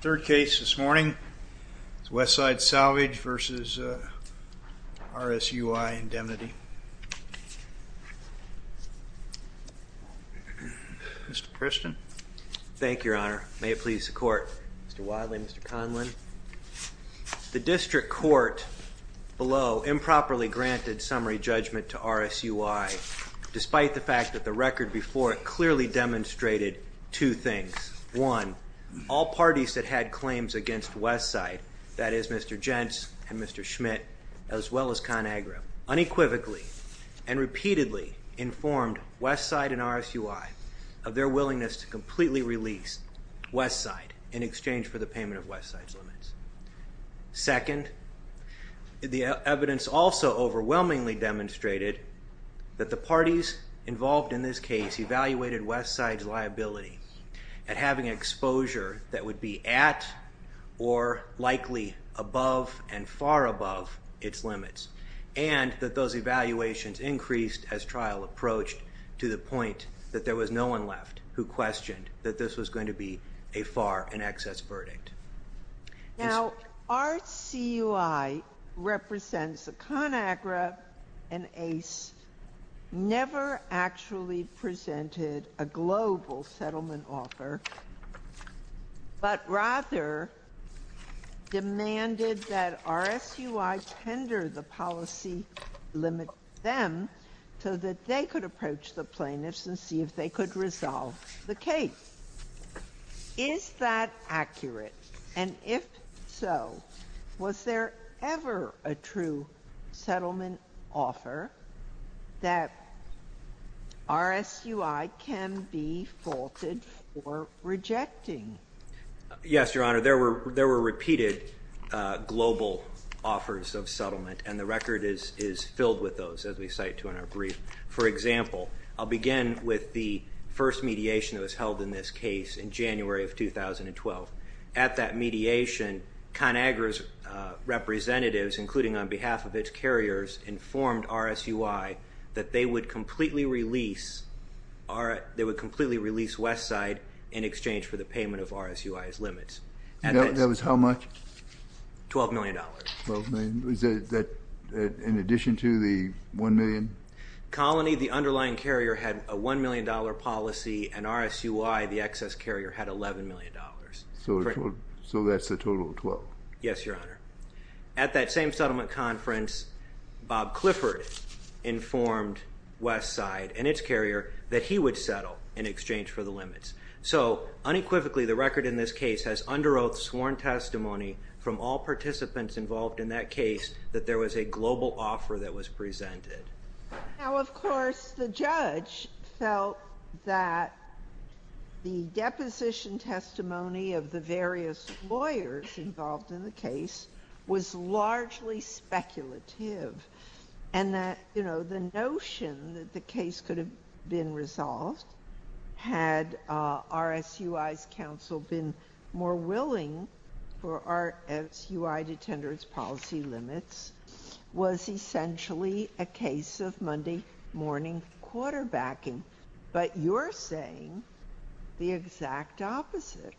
Third case this morning is West Side Salvage v. RSUI Indemnity. Mr. Priston. Thank you, Your Honor. May it please the Court. Mr. Wadley, Mr. Conlin. The district court below improperly submitted summary judgment to RSUI, despite the fact that the record before it clearly demonstrated two things. One, all parties that had claims against West Side, that is Mr. Jentz and Mr. Schmidt, as well as ConAgra, unequivocally and repeatedly informed West Side and RSUI of their willingness to completely release West Side in exchange for the payment of West Side's limits. Second, the evidence also overwhelmingly demonstrated that the parties involved in this case evaluated West Side's liability at having exposure that would be at or likely above and far above its limits, and that those evaluations increased as trial approached to the point that there was no one left who questioned that this was Now, RSUI represents ConAgra and ACE, never actually presented a global settlement offer, but rather demanded that RSUI tender the policy to limit them so that they could approach the plaintiffs and see if they could resolve the case. Is that accurate? And if so, was there ever a true settlement offer that RSUI can be faulted for rejecting? Yes, Your Honor. There were repeated global offers of settlement, and the record is filled with those, as we cite to in our brief. For example, I'll begin with the first mediation that was held in this case in January of 2012. At that mediation, ConAgra's representatives, including on behalf of its carriers, informed RSUI that they would completely release West Side in exchange for the payment of RSUI's limits. That was how much? $12 million. $12 million? Is that in addition to the $1 million? Colony, the underlying carrier, had a $1 million policy, and RSUI, the excess carrier, had $11 million. So that's a total of 12? Yes, Your Honor. At that same settlement conference, Bob Clifford informed West Side and its carrier that he would settle in exchange for the limits. So, unequivocally, the record in this case has under oath sworn testimony from all participants involved in that case that there was a global offer that was presented. Now, of course, the judge felt that the deposition testimony of the various lawyers involved in the case was largely speculative, and that the notion that the case could have been resolved had RSUI's counsel been more willing for RSUI to tender its policy limits was essentially a case of Monday morning quarterbacking. But you're saying the exact opposite.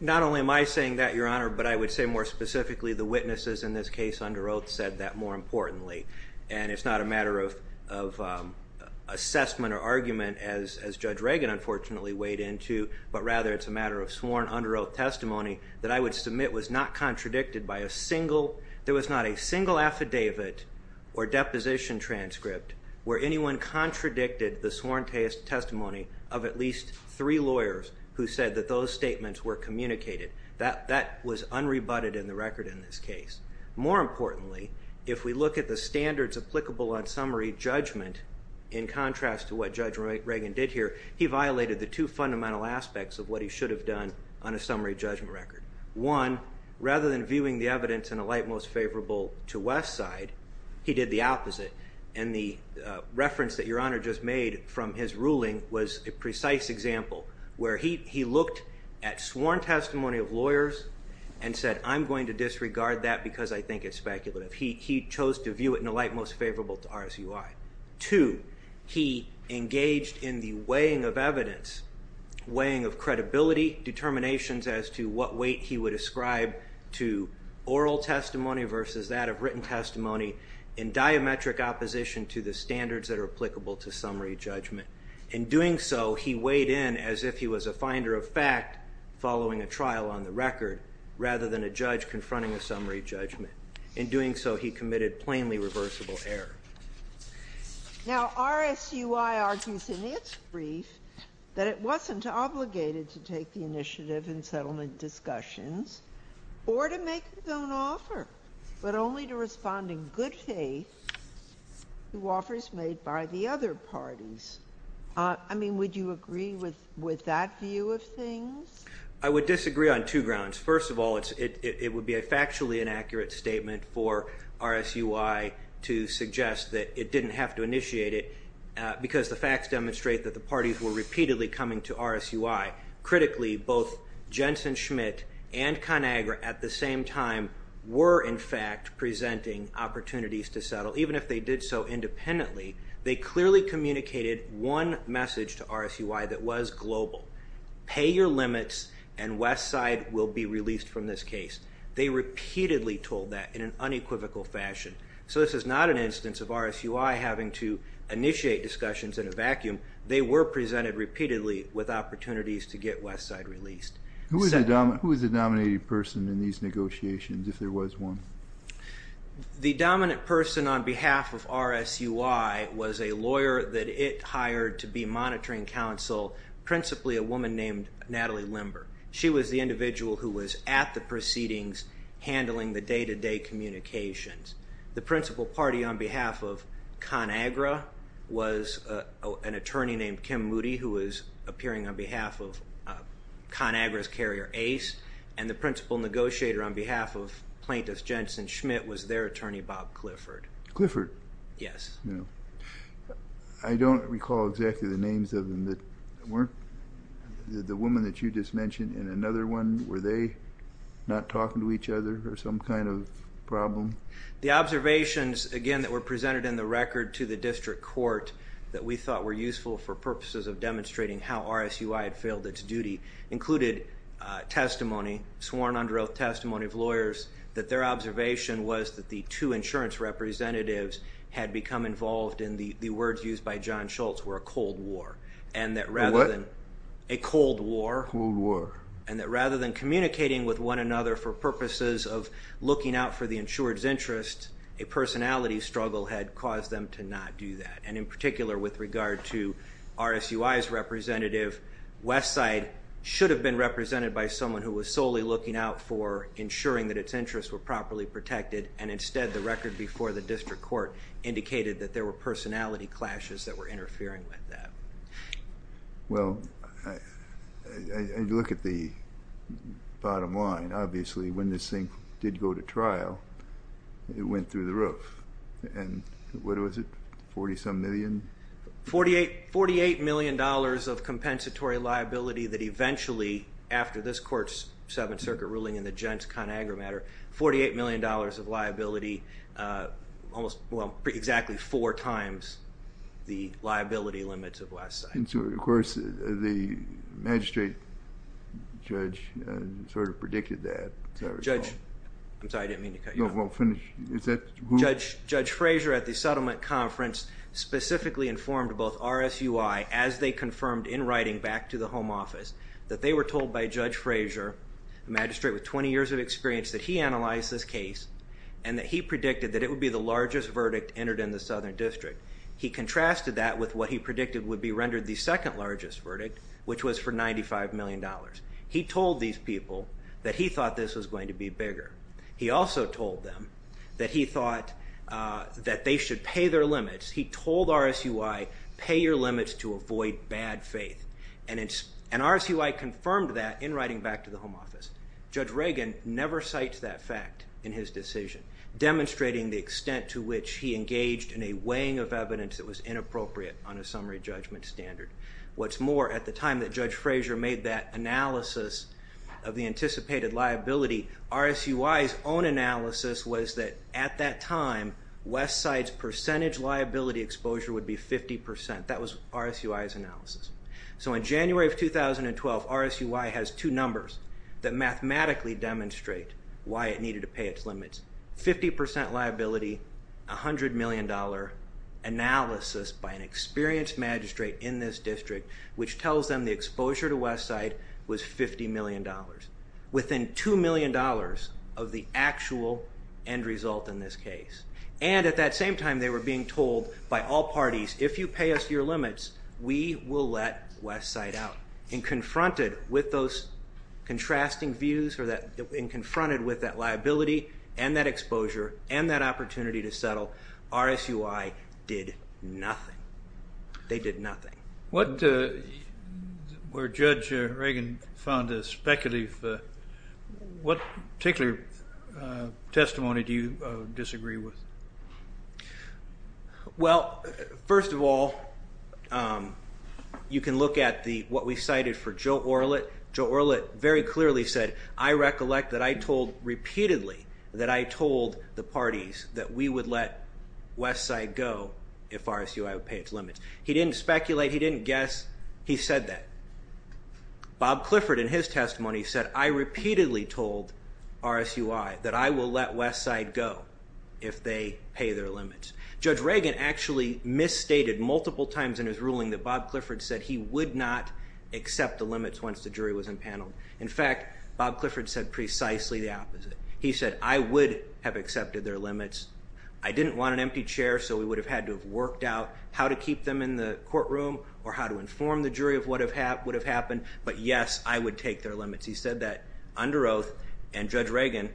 Not only am I saying that, Your Honor, but I would say more specifically the witnesses in this case under oath said that more importantly. And it's not a matter of assessment or argument, as Judge Reagan, unfortunately, weighed into, but rather it's a matter of sworn under oath testimony that I would submit was not contradicted by a single, there was not a single affidavit or deposition transcript where anyone contradicted the sworn testimony of at least three lawyers who said that those statements were communicated. That was unrebutted in the record in this case. More importantly, if we look at the standards applicable on summary judgment, in contrast to what Judge Reagan did here, he violated the two fundamental aspects of what he should have done on a summary judgment record. One, rather than viewing the evidence in a light most favorable to West side, he did the opposite. And the reference that Your Honor just made from his ruling was a precise example where he looked at sworn testimony of lawyers and said I'm going to disregard that because I think it's speculative. He chose to view it in a light most favorable to RSUI. Two, he engaged in the weighing of evidence, weighing of credibility, determinations as to what weight he would ascribe to oral testimony versus that of written testimony in diametric opposition to the standards that are applicable to summary judgment. In doing so, he weighed in as if he was a finder of fact following a trial on the record rather than a judge confronting a summary judgment. In doing so, he committed plainly reversible error. Now, RSUI argues in its brief that it wasn't obligated to take the initiative in settlement discussions or to make its own offer, but only to respond in good faith to offers made by the other parties. I mean, would you agree with that view of things? I would disagree on two grounds. First of all, it would be a factually inaccurate statement for RSUI to suggest that it didn't have to initiate it because the facts demonstrate that the parties were repeatedly coming to RSUI. Critically, both Jensen-Schmidt and ConAgra at the same time were in fact presenting opportunities to settle. Even if they did so independently, they clearly communicated one message to RSUI that was global. Pay your attention to the fact that both Jensen-Schmidt and ConAgra at the same time were in fact presenting opportunities to settle. Who is the dominating person in these negotiations, if there was one? The dominant person on behalf of RSUI was a lawyer that it hired to be monitoring counsel, principally a woman named Natalie Limber. She was the individual who was at the proceedings handling the day-to-day communications. The principal party on behalf of ConAgra was an attorney named Kim Moody, who was appearing on behalf of ConAgra's carrier, Ace. The principal negotiator on behalf of plaintiff Jensen-Schmidt was their attorney, Bob Clifford. Clifford? Yes. I don't recall exactly the names of them. The woman that you just mentioned and another one, were they not talking to each other or some kind of problem? The observations, again, that were presented in the record to the district court that we thought were useful for purposes of demonstrating how RSUI had failed its duty included testimony, sworn under oath testimony of lawyers, that their observation was that the two insurance representatives had become involved in the words used by John Schultz, were a cold war. And that rather than... A what? A cold war. Cold war. And that rather than communicating with one another for purposes of looking out for the insured's interest, a personality struggle had caused them to not do that. And in particular with regard to RSUI's representative, West Side should have been represented by someone who was solely looking out for ensuring that its interests were properly protected and instead the record before the district court indicated that there were personality clashes that were interfering with that. Well, and you look at the bottom line, obviously when this thing did go to trial, it went through the roof. And what was it? Forty-some million? Forty-eight million dollars of compensatory liability that eventually, after this court's Seventh Circuit ruling in the Jentz-Conagra matter, forty-eight million dollars of liability, almost, well, exactly four times the liability limits of West Side. And so, of course, the magistrate judge sort of predicted that, as I recall. Judge... I'm sorry, I didn't mean to cut you off. No, well, finish. Is that... Judge Frazier at the settlement conference specifically informed both RSUI, as they confirmed in writing back to the home office, that they were told by Judge Frazier, a magistrate with twenty years of experience, that he analyzed this case and that he predicted that it would be the largest verdict entered in the Southern District. He contrasted that with what he predicted would be rendered the second largest verdict, which was for ninety-five million dollars. He told these people that he thought this was going to be bigger. He also told them that he thought that they should pay their limits. He told RSUI, pay your limits to avoid bad faith. And RSUI confirmed that in writing back to the home office. Judge Reagan never cites that fact in his decision, demonstrating the extent to which he engaged in a weighing of evidence that was inappropriate on a summary judgment standard. What's more, at the time that Judge Frazier made that analysis of the anticipated liability, RSUI's own analysis was that, at that time, West Side's percentage That was RSUI's analysis. So in January of 2012, RSUI has two numbers that mathematically demonstrate why it needed to pay its limits. Fifty percent liability, a hundred million dollar analysis by an experienced magistrate in this district, which tells them the exposure to West Side was fifty million dollars. Within two million dollars of the actual end result in this case. And at that same time, they were being told by all parties, if you pay us your limits, we will let West Side out. And confronted with those contrasting views, and confronted with that liability, and that exposure, and that opportunity to settle, RSUI did nothing. They did nothing. What, where Judge Reagan found this speculative, what particular testimony do you disagree with? Well, first of all, you can look at what we cited for Joe Orlet. Joe Orlet very clearly said, I recollect that I told repeatedly that I told the parties that we would let West Side go if RSUI would pay its limits. He didn't speculate, he didn't guess, he said that. Bob Clifford in his testimony said, I repeatedly told RSUI that I will let West Side go if they pay their limits. Judge Reagan actually misstated multiple times in his ruling that Bob Clifford said he would not accept the limits once the jury was impaneled. In fact, Bob Clifford said precisely the opposite. He said, I would have accepted their limits. I didn't want an empty chair, so we would have had to have worked out how to keep them in the courtroom, or how to inform the jury of what would have happened. But yes, I would take their limits. He said that under oath, and Judge Reagan,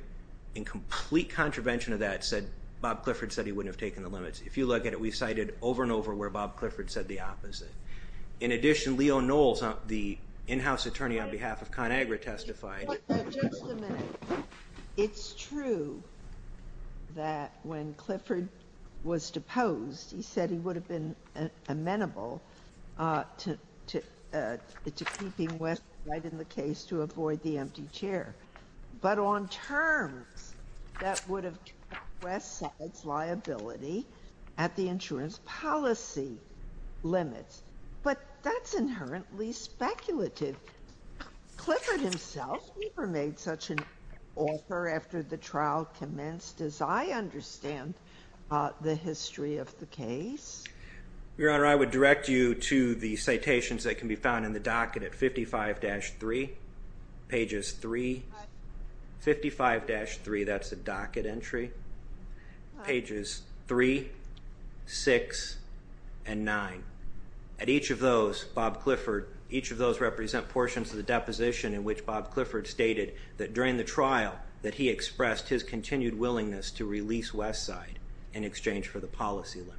in complete contravention of that, said Bob Clifford said he wouldn't have taken the limits. If you look at it, we cited over and over where Bob Clifford said the opposite. In addition, Leo Knowles, the in-house attorney on behalf of ConAgra testified. Just a minute. It's true that when Clifford was deposed, he said he would have been amenable to, to keeping West right in the case to avoid the empty chair. But on terms, that would have took West's liability at the insurance policy limits. But that's inherently speculative. Clifford himself never made such an offer after the trial commenced, as I understand the history of the case. Your Honor, I would direct you to the citations that can be found in the docket at 55-3, pages 3, 55-3, that's the docket entry, pages 3, 6, and 9. At each of those, Bob Clifford, each of those represent portions of the deposition in which Bob Clifford stated that during the trial that he expressed his continued willingness to release West side in exchange for the policy limits.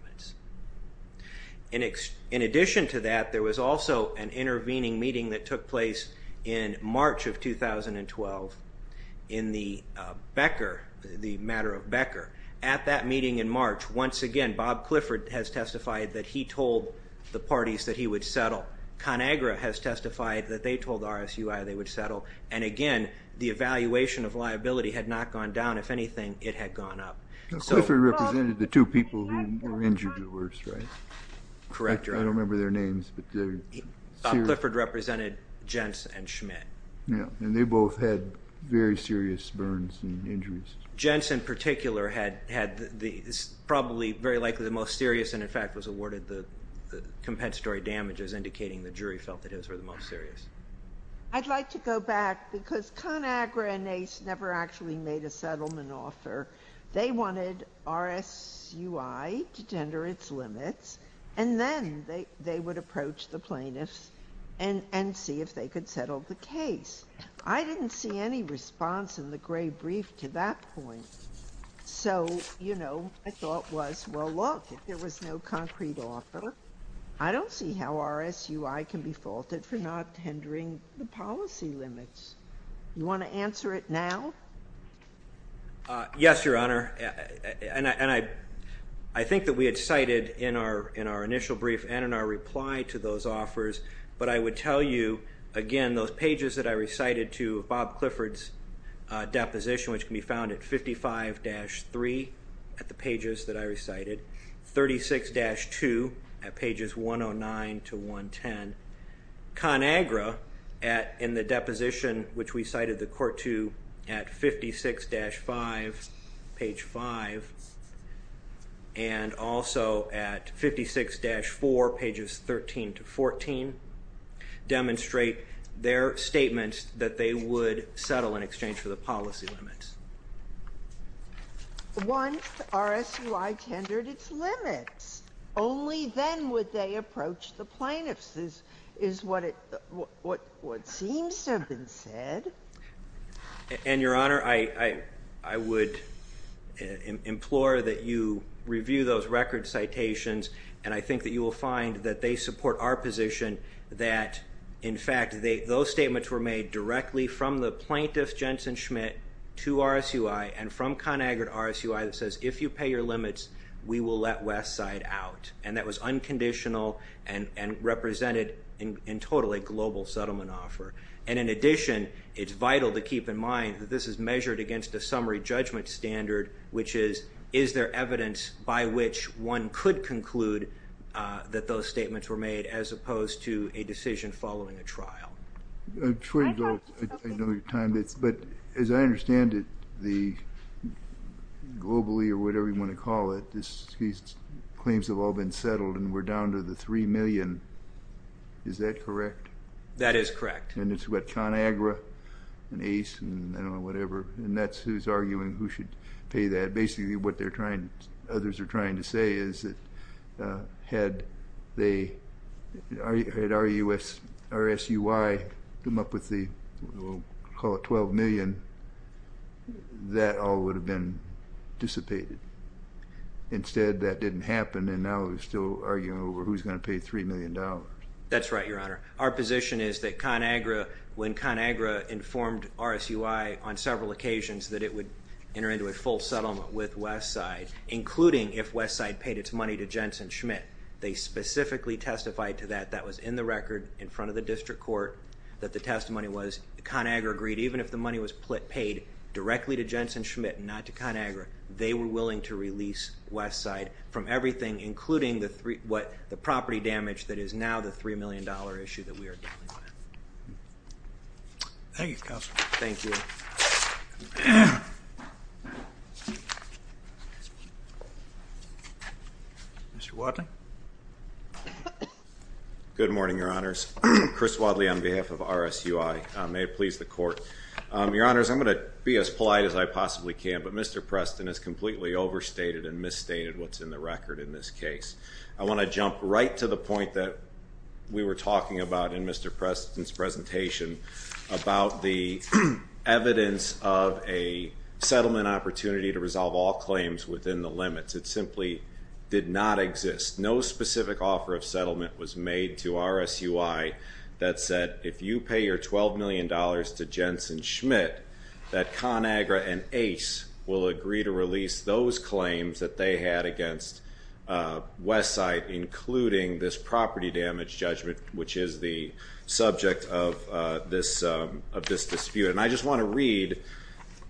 In addition to that, there was also an intervening meeting that took place in March of 2012 in the Becker, the matter of Becker. At that meeting in March, once again, Bob Clifford has testified that he told the parties that he would settle. ConAgra has testified that they told RSUI they would settle. And again, the evaluation of liability had not gone down. If anything, it had gone up. Clifford represented the two people who were injured the worst, right? Correct, Your Honor. I don't remember their names, but they're serious. Bob Clifford represented Jentz and Schmidt. Yeah, and they both had very serious burns and injuries. Jentz in particular had probably very likely the most serious and in fact was awarded the compensatory damages indicating the jury felt that his were the most serious. I'd like to go back because ConAgra and NACE never actually made a settlement offer. They wanted RSUI to tender its limits and then they would approach the plaintiffs and see if they could settle the case. I didn't see any response in the gray brief to that point. So, you know, I thought was, well, look, if there was no concrete offer, I don't see how RSUI can be faulted for not tendering the policy limits. You want to answer it now? Yes, Your Honor, and I think that we had cited in our initial brief and in our reply to those offers, but I would tell you, again, those pages that I recited to Bob Clifford's deposition which can be found at 55-3 at the pages that I recited, 36-2 at pages 109 to 110. ConAgra at in the deposition which we cited the court to at 56-5, page 5, and also at 56-4, pages 13 to 14, demonstrate their statements that they would settle in exchange for the policy limits. Once RSUI tendered its limits, only then would they approach the plaintiffs, is what it seems to have been said. And, Your Honor, I would implore that you review those record citations and I think that you will find that they support our position that, in fact, those statements were made directly from the plaintiff, Jensen Schmidt, to RSUI and from ConAgra to RSUI that says, if you pay your limits, we will let West side out. And that was unconditional and represented in total a global settlement offer. And in addition, it's vital to keep in mind that this is measured against a summary judgment standard which is, is there evidence by which one could conclude that those statements were made as opposed to a decision following a trial. I know your time, but as I understand it, globally or whatever you want to call it, these claims have all been settled and we're down to the $3 million. Is that correct? That is correct. And it's what ConAgra and ACE and whatever, and that's who's arguing who should pay that. Basically what others are trying to say is that had RSUI come up with the, we'll call it $12 million, that all would have been dissipated. Instead, that didn't happen and now they're still arguing over who's going to pay $3 million. That's right, Your Honor. Our position is that ConAgra, when ConAgra informed RSUI on several occasions that it would enter into a full settlement with Westside, including if Westside paid its money to Jensen Schmitt, they specifically testified to that. That was in the record in front of the district court that the testimony was. ConAgra agreed even if the money was paid directly to Jensen Schmitt and not to ConAgra, they were willing to release Westside from everything, including the property damage that is now the $3 million issue that we are dealing with. Thank you, Counselor. Thank you. Mr. Wadley. Good morning, Your Honors. Chris Wadley on behalf of RSUI. May it please the Court. Your Honors, I'm going to be as polite as I possibly can, but Mr. Preston has completely overstated and misstated what's in the record in this case. I want to jump right to the point that we were talking about in Mr. Preston's presentation about the evidence of a settlement opportunity to resolve all claims within the limits. It simply did not exist. No specific offer of settlement was made to RSUI that said, if you pay your $12 million to Jensen Schmitt, that ConAgra and ACE will agree to release those claims that they had against Westside, including this property damage judgment, which is the subject of this dispute. And I just want to read,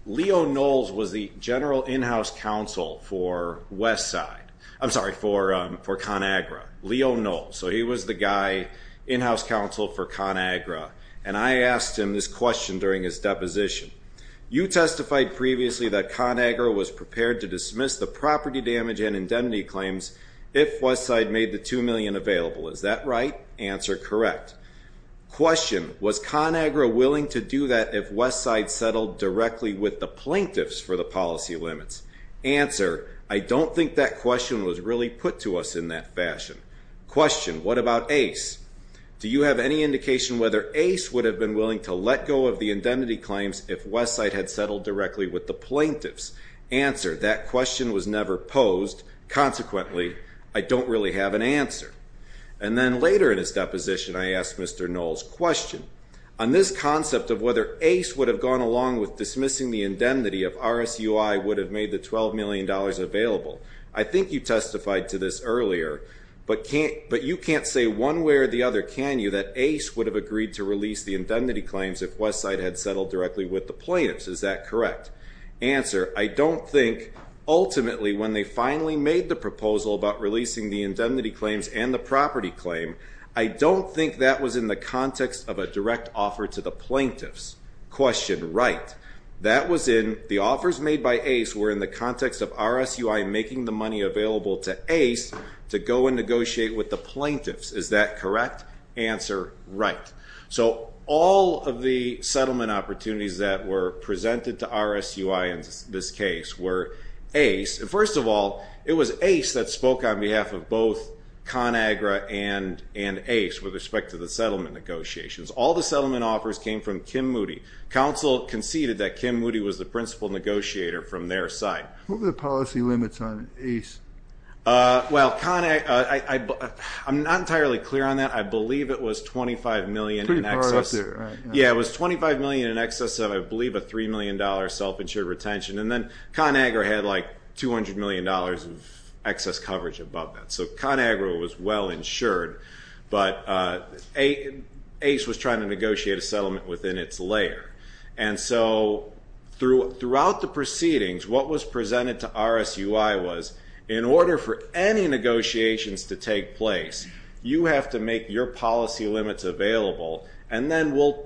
Leo Knowles was the general in-house counsel for Westside. I'm sorry, for ConAgra. Leo Knowles. So he was the guy, in-house counsel for ConAgra. And I asked him this question during his deposition. You testified previously that ConAgra was prepared to dismiss the property damage and indemnity claims if Westside made the $2 million available. Is that right? Answer, correct. Question, was ConAgra willing to do that if Westside settled directly with the plaintiffs for the policy limits? Answer, I don't think that question was really put to us in that fashion. Question, what about ACE? Do you have any indication whether ACE would have been willing to let go of the indemnity claims if Westside had settled directly with the plaintiffs? Answer, that question was never posed. Consequently, I don't really have an answer. And then later in his deposition, I asked Mr. Knowles' question. On this concept of whether ACE would have gone along with dismissing the indemnity if RSUI would have made the $12 million available, I think you testified to this earlier, but you can't say one way or the other, can you, that ACE would have agreed to release the indemnity claims if Westside had settled directly with the plaintiffs. Is that correct? Answer, I don't think ultimately when they finally made the proposal about releasing the indemnity claims and the property claim, I don't think that was in the context of a direct offer to the plaintiffs. Question, right. That was in the offers made by ACE were in the context of RSUI making the money available to ACE to go and negotiate with the plaintiffs. Is that correct? Answer, right. So all of the settlement opportunities that were presented to RSUI in this case were ACE. And first of all, it was ACE that spoke on behalf of both ConAgra and ACE with respect to the settlement negotiations. All the settlement offers came from Kim Moody. Council conceded that Kim Moody was the principal negotiator from their side. What were the policy limits on ACE? Well, I'm not entirely clear on that. I believe it was $25 million in excess. Pretty far up there, right. Yeah, it was $25 million in excess of, I believe, a $3 million self-insured retention. And then ConAgra had like $200 million of excess coverage above that. So ConAgra was well insured. But ACE was trying to negotiate a settlement within its layer. And so throughout the proceedings, what was presented to RSUI was, in order for any negotiations to take place, you have to make your policy limits available, and then we'll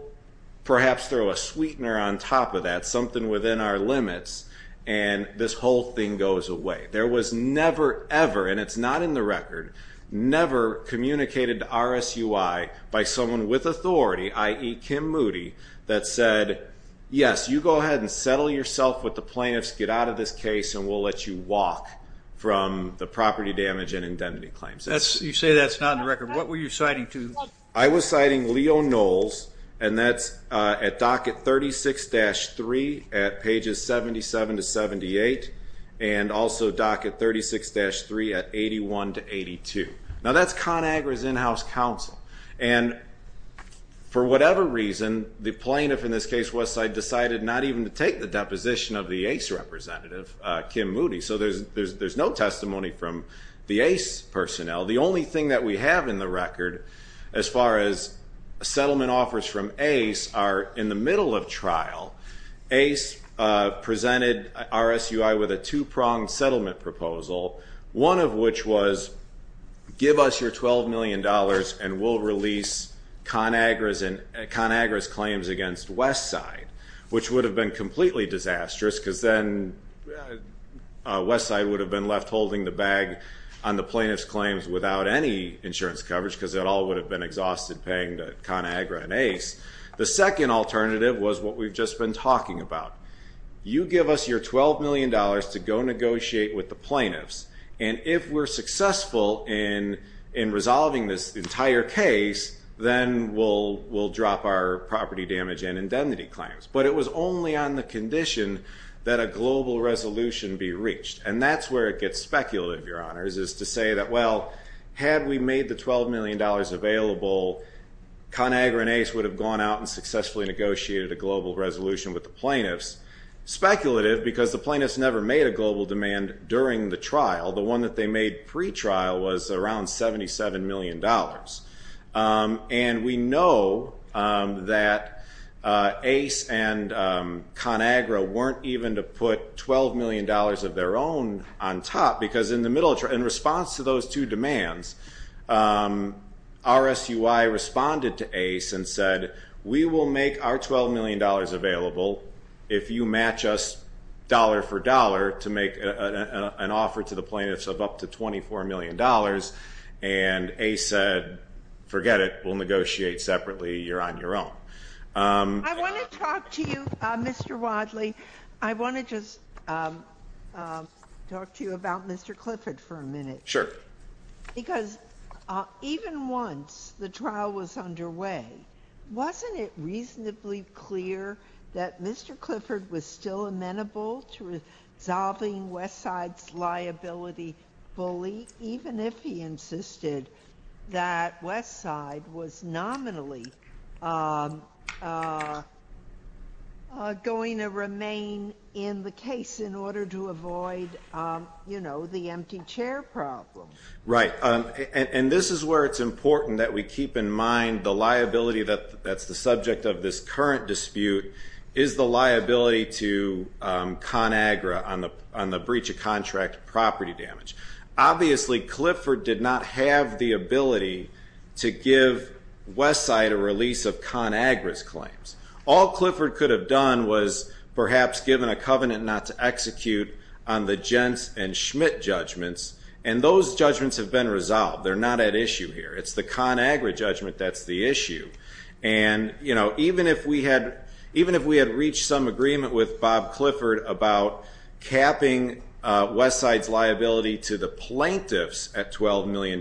perhaps throw a sweetener on top of that, something within our limits, and this whole thing goes away. There was never, ever, and it's not in the record, never communicated to RSUI by someone with authority, i.e. Kim Moody, that said, yes, you go ahead and settle yourself with the plaintiffs, get out of this case, and we'll let you walk from the property damage and indemnity claims. You say that's not in the record. What were you citing to? I was citing Leo Knowles, and that's at docket 36-3 at pages 77 to 78, and also docket 36-3 at 81 to 82. Now that's ConAgra's in-house counsel. And for whatever reason, the plaintiff, in this case Westside, decided not even to take the deposition of the ACE representative, Kim Moody, so there's no testimony from the ACE personnel. The only thing that we have in the record as far as settlement offers from ACE are in the middle of trial. ACE presented RSUI with a two-pronged settlement proposal, one of which was give us your $12 million and we'll release ConAgra's claims against Westside, which would have been completely disastrous because then Westside would have been left holding the bag on the plaintiff's claims without any insurance coverage because it all would have been exhausted paying to ConAgra and ACE. The second alternative was what we've just been talking about. You give us your $12 million to go negotiate with the plaintiffs, and if we're successful in resolving this entire case, then we'll drop our property damage and indemnity claims. But it was only on the condition that a global resolution be reached, and that's where it gets speculative, Your Honors, is to say that, well, had we made the $12 million available, ConAgra and ACE would have gone out and successfully negotiated a global resolution with the plaintiffs. Speculative because the plaintiffs never made a global demand during the trial. The one that they made pretrial was around $77 million, and we know that ACE and ConAgra weren't even to put $12 million of their own on top because in response to those two demands, RSUI responded to ACE and said, we will make our $12 million available if you match us dollar for dollar to make an offer to the plaintiffs of up to $24 million, and ACE said, forget it. We'll negotiate separately. You're on your own. I want to talk to you, Mr. Wadley. I want to just talk to you about Mr. Clifford for a minute. Sure. Because even once the trial was underway, wasn't it reasonably clear that Mr. Clifford was still amenable to resolving Westside's liability bully, even if he insisted that Westside was nominally going to remain in the case in order to avoid, you know, the empty chair problem? Right. And this is where it's important that we keep in mind the liability that's the subject of this current dispute is the liability to ConAgra on the breach of contract property damage. Obviously Clifford did not have the ability to give Westside a release of ConAgra's claims. All Clifford could have done was perhaps given a covenant not to execute on the Jentz and Schmidt judgments, and those judgments have been resolved. They're not at issue here. It's the ConAgra judgment that's the issue. And, you know, even if we had reached some agreement with Bob Clifford about capping Westside's liability to the plaintiffs at $12 million,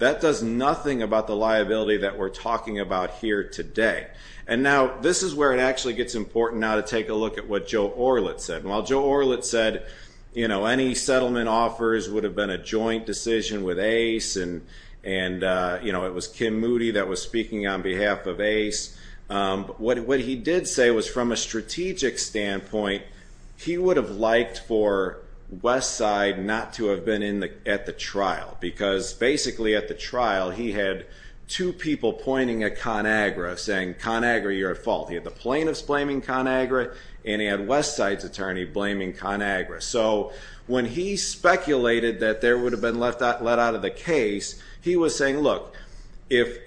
that does nothing about the liability that we're talking about here today. And now this is where it actually gets important now to take a look at what Joe Orlet said. While Joe Orlet said, you know, any settlement offers would have been a joint decision with Ace, and, you know, it was Kim Moody that was speaking on behalf of Ace, what he did say was from a strategic standpoint, he would have liked for Westside not to have been at the trial because basically at the trial he had two people pointing at ConAgra saying, ConAgra, you're at fault. He had the plaintiffs blaming ConAgra, and he had Westside's attorney blaming ConAgra. So when he speculated that there would have been let out of the case, he was saying, look, if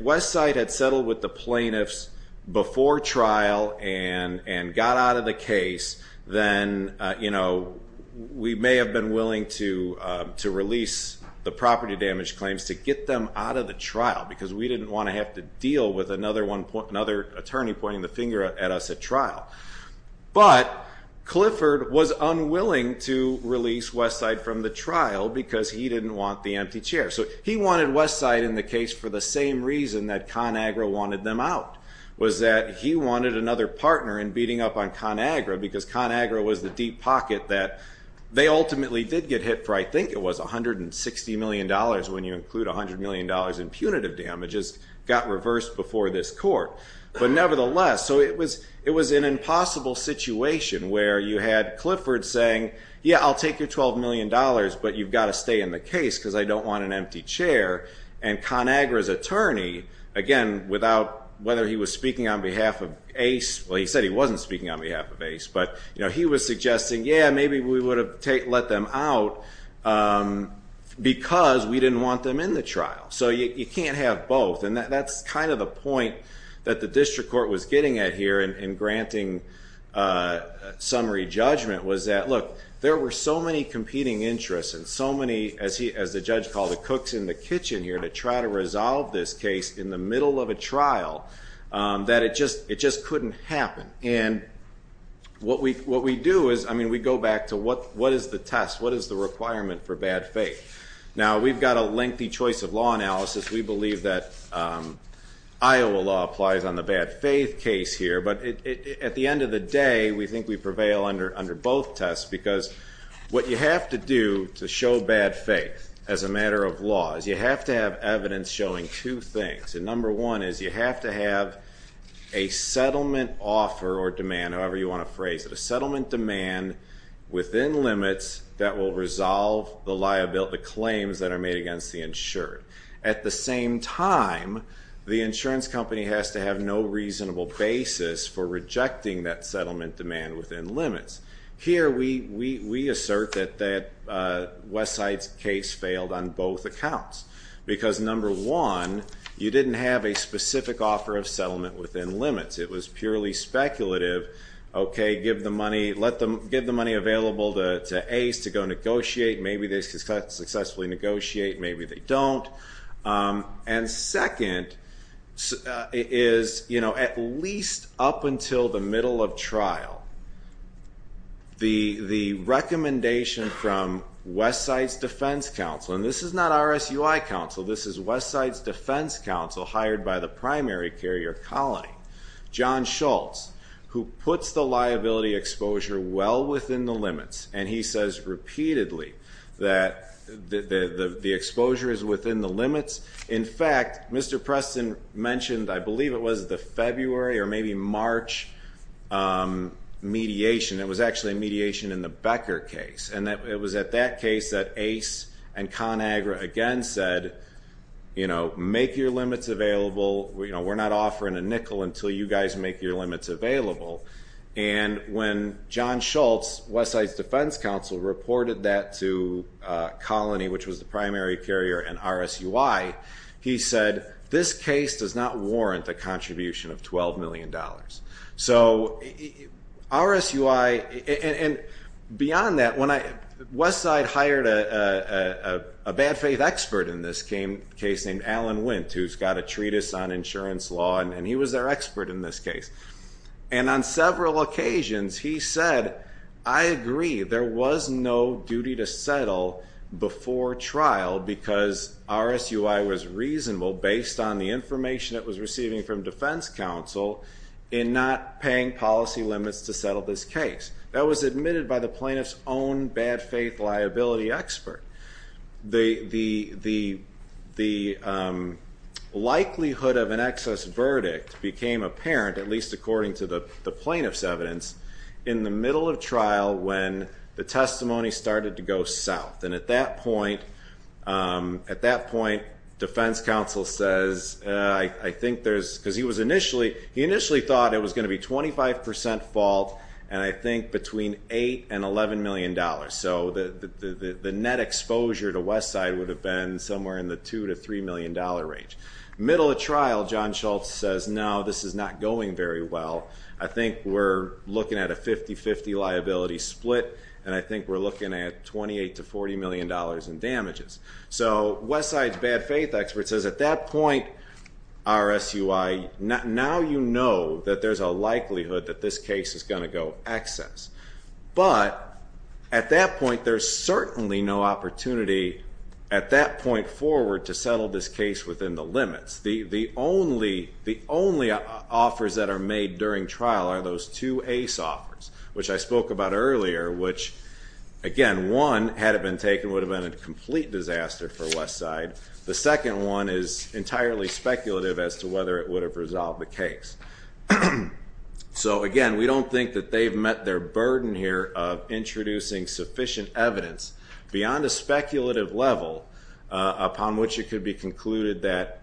Westside had settled with the plaintiffs before trial and got out of the case, then, you know, we may have been willing to release the property damage claims to get them out of the trial because we didn't want to have to deal with another attorney pointing the finger at us at trial. But Clifford was unwilling to release Westside from the trial because he didn't want the empty chair. So he wanted Westside in the case for the same reason that ConAgra wanted them out, was that he wanted another partner in beating up on ConAgra because ConAgra was the deep pocket that they ultimately did get hit for, I think it was $160 million when you include $100 million in punitive damages, got reversed before this court. But nevertheless, so it was an impossible situation where you had Clifford saying, yeah, I'll take your $12 million, but you've got to stay in the case because I don't want an empty chair. And ConAgra's attorney, again, whether he was speaking on behalf of Ace, well, he said he wasn't speaking on behalf of Ace, but he was suggesting, yeah, maybe we would have let them out because we didn't want them in the trial. So you can't have both. And that's kind of the point that the district court was getting at here in granting summary judgment was that, look, there were so many competing interests and so many, as the judge called it, cooks in the kitchen here to try to resolve this case in the middle of a trial that it just couldn't happen. And what we do is, I mean, we go back to what is the test? What is the requirement for bad faith? Now, we've got a lengthy choice of law analysis. We believe that Iowa law applies on the bad faith case here. But at the end of the day, we think we prevail under both tests because what you have to do to show bad faith as a matter of law is you have to have evidence showing two things. And number one is you have to have a settlement offer or demand, however you want to phrase it, a settlement demand within limits that will resolve the claims that are made against the insured. At the same time, the insurance company has to have no reasonable basis for rejecting that settlement demand within limits. Here we assert that Westside's case failed on both accounts because, number one, you didn't have a specific offer of settlement within limits. It was purely speculative. Give the money available to Ace to go negotiate. Maybe they successfully negotiate. Maybe they don't. And second is at least up until the middle of trial, the recommendation from Westside's defense counsel, and this is not RSUI counsel. This is Westside's defense counsel hired by the primary carrier colony, John Schultz, who puts the liability exposure well within the limits, and he says repeatedly that the exposure is within the limits. In fact, Mr. Preston mentioned, I believe it was the February or maybe March mediation. It was actually a mediation in the Becker case, and it was at that case that Ace and ConAgra again said, you know, make your limits available. We're not offering a nickel until you guys make your limits available. And when John Schultz, Westside's defense counsel, reported that to colony, which was the primary carrier and RSUI, he said this case does not warrant a contribution of $12 million. So RSUI and beyond that, Westside hired a bad faith expert in this case named Alan Wint who's got a treatise on insurance law, and he was their expert in this case. And on several occasions he said, I agree. There was no duty to settle before trial because RSUI was reasonable based on the information it was receiving from defense counsel in not paying policy limits to settle this case. That was admitted by the plaintiff's own bad faith liability expert. The likelihood of an excess verdict became apparent, at least according to the plaintiff's evidence, in the middle of trial when the testimony started to go south. And at that point, defense counsel says, I think there's, because he was initially, he initially thought it was going to be 25% fault, and I think between $8 and $11 million. So the net exposure to Westside would have been somewhere in the $2 to $3 million range. Middle of trial, John Schultz says, no, this is not going very well. I think we're looking at a 50-50 liability split, and I think we're looking at $28 to $40 million in damages. So Westside's bad faith expert says at that point, RSUI, now you know that there's a likelihood that this case is going to go excess. But at that point, there's certainly no opportunity at that point forward to settle this case within the limits. The only offers that are made during trial are those two ACE offers, which I spoke about earlier, which, again, one, had it been taken, would have been a complete disaster for Westside. The second one is entirely speculative as to whether it would have resolved the case. So, again, we don't think that they've met their burden here of introducing sufficient evidence beyond a speculative level upon which it could be concluded that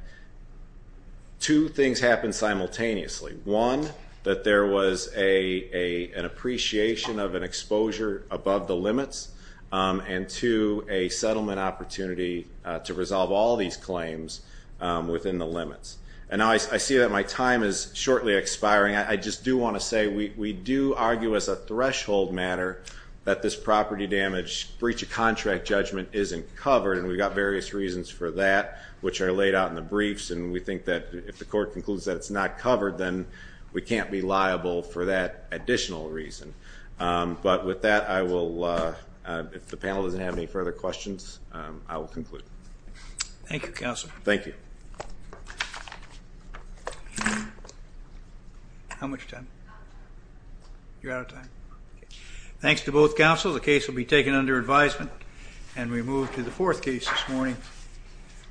two things happened simultaneously. One, that there was an appreciation of an exposure above the limits, and two, a settlement opportunity to resolve all these claims within the limits. And now I see that my time is shortly expiring. I just do want to say, we do argue as a threshold matter that this property damage breach of contract judgment isn't covered, and we've got various reasons for that, which are laid out in the briefs, and we think that if the court concludes that it's not covered, then we can't be liable for that additional reason. But with that, I will, if the panel doesn't have any further questions, I will conclude. Thank you, Counsel. Thank you. How much time? You're out of time. Thanks to both counsels, the case will be taken under advisement, and we move to the fourth case this morning.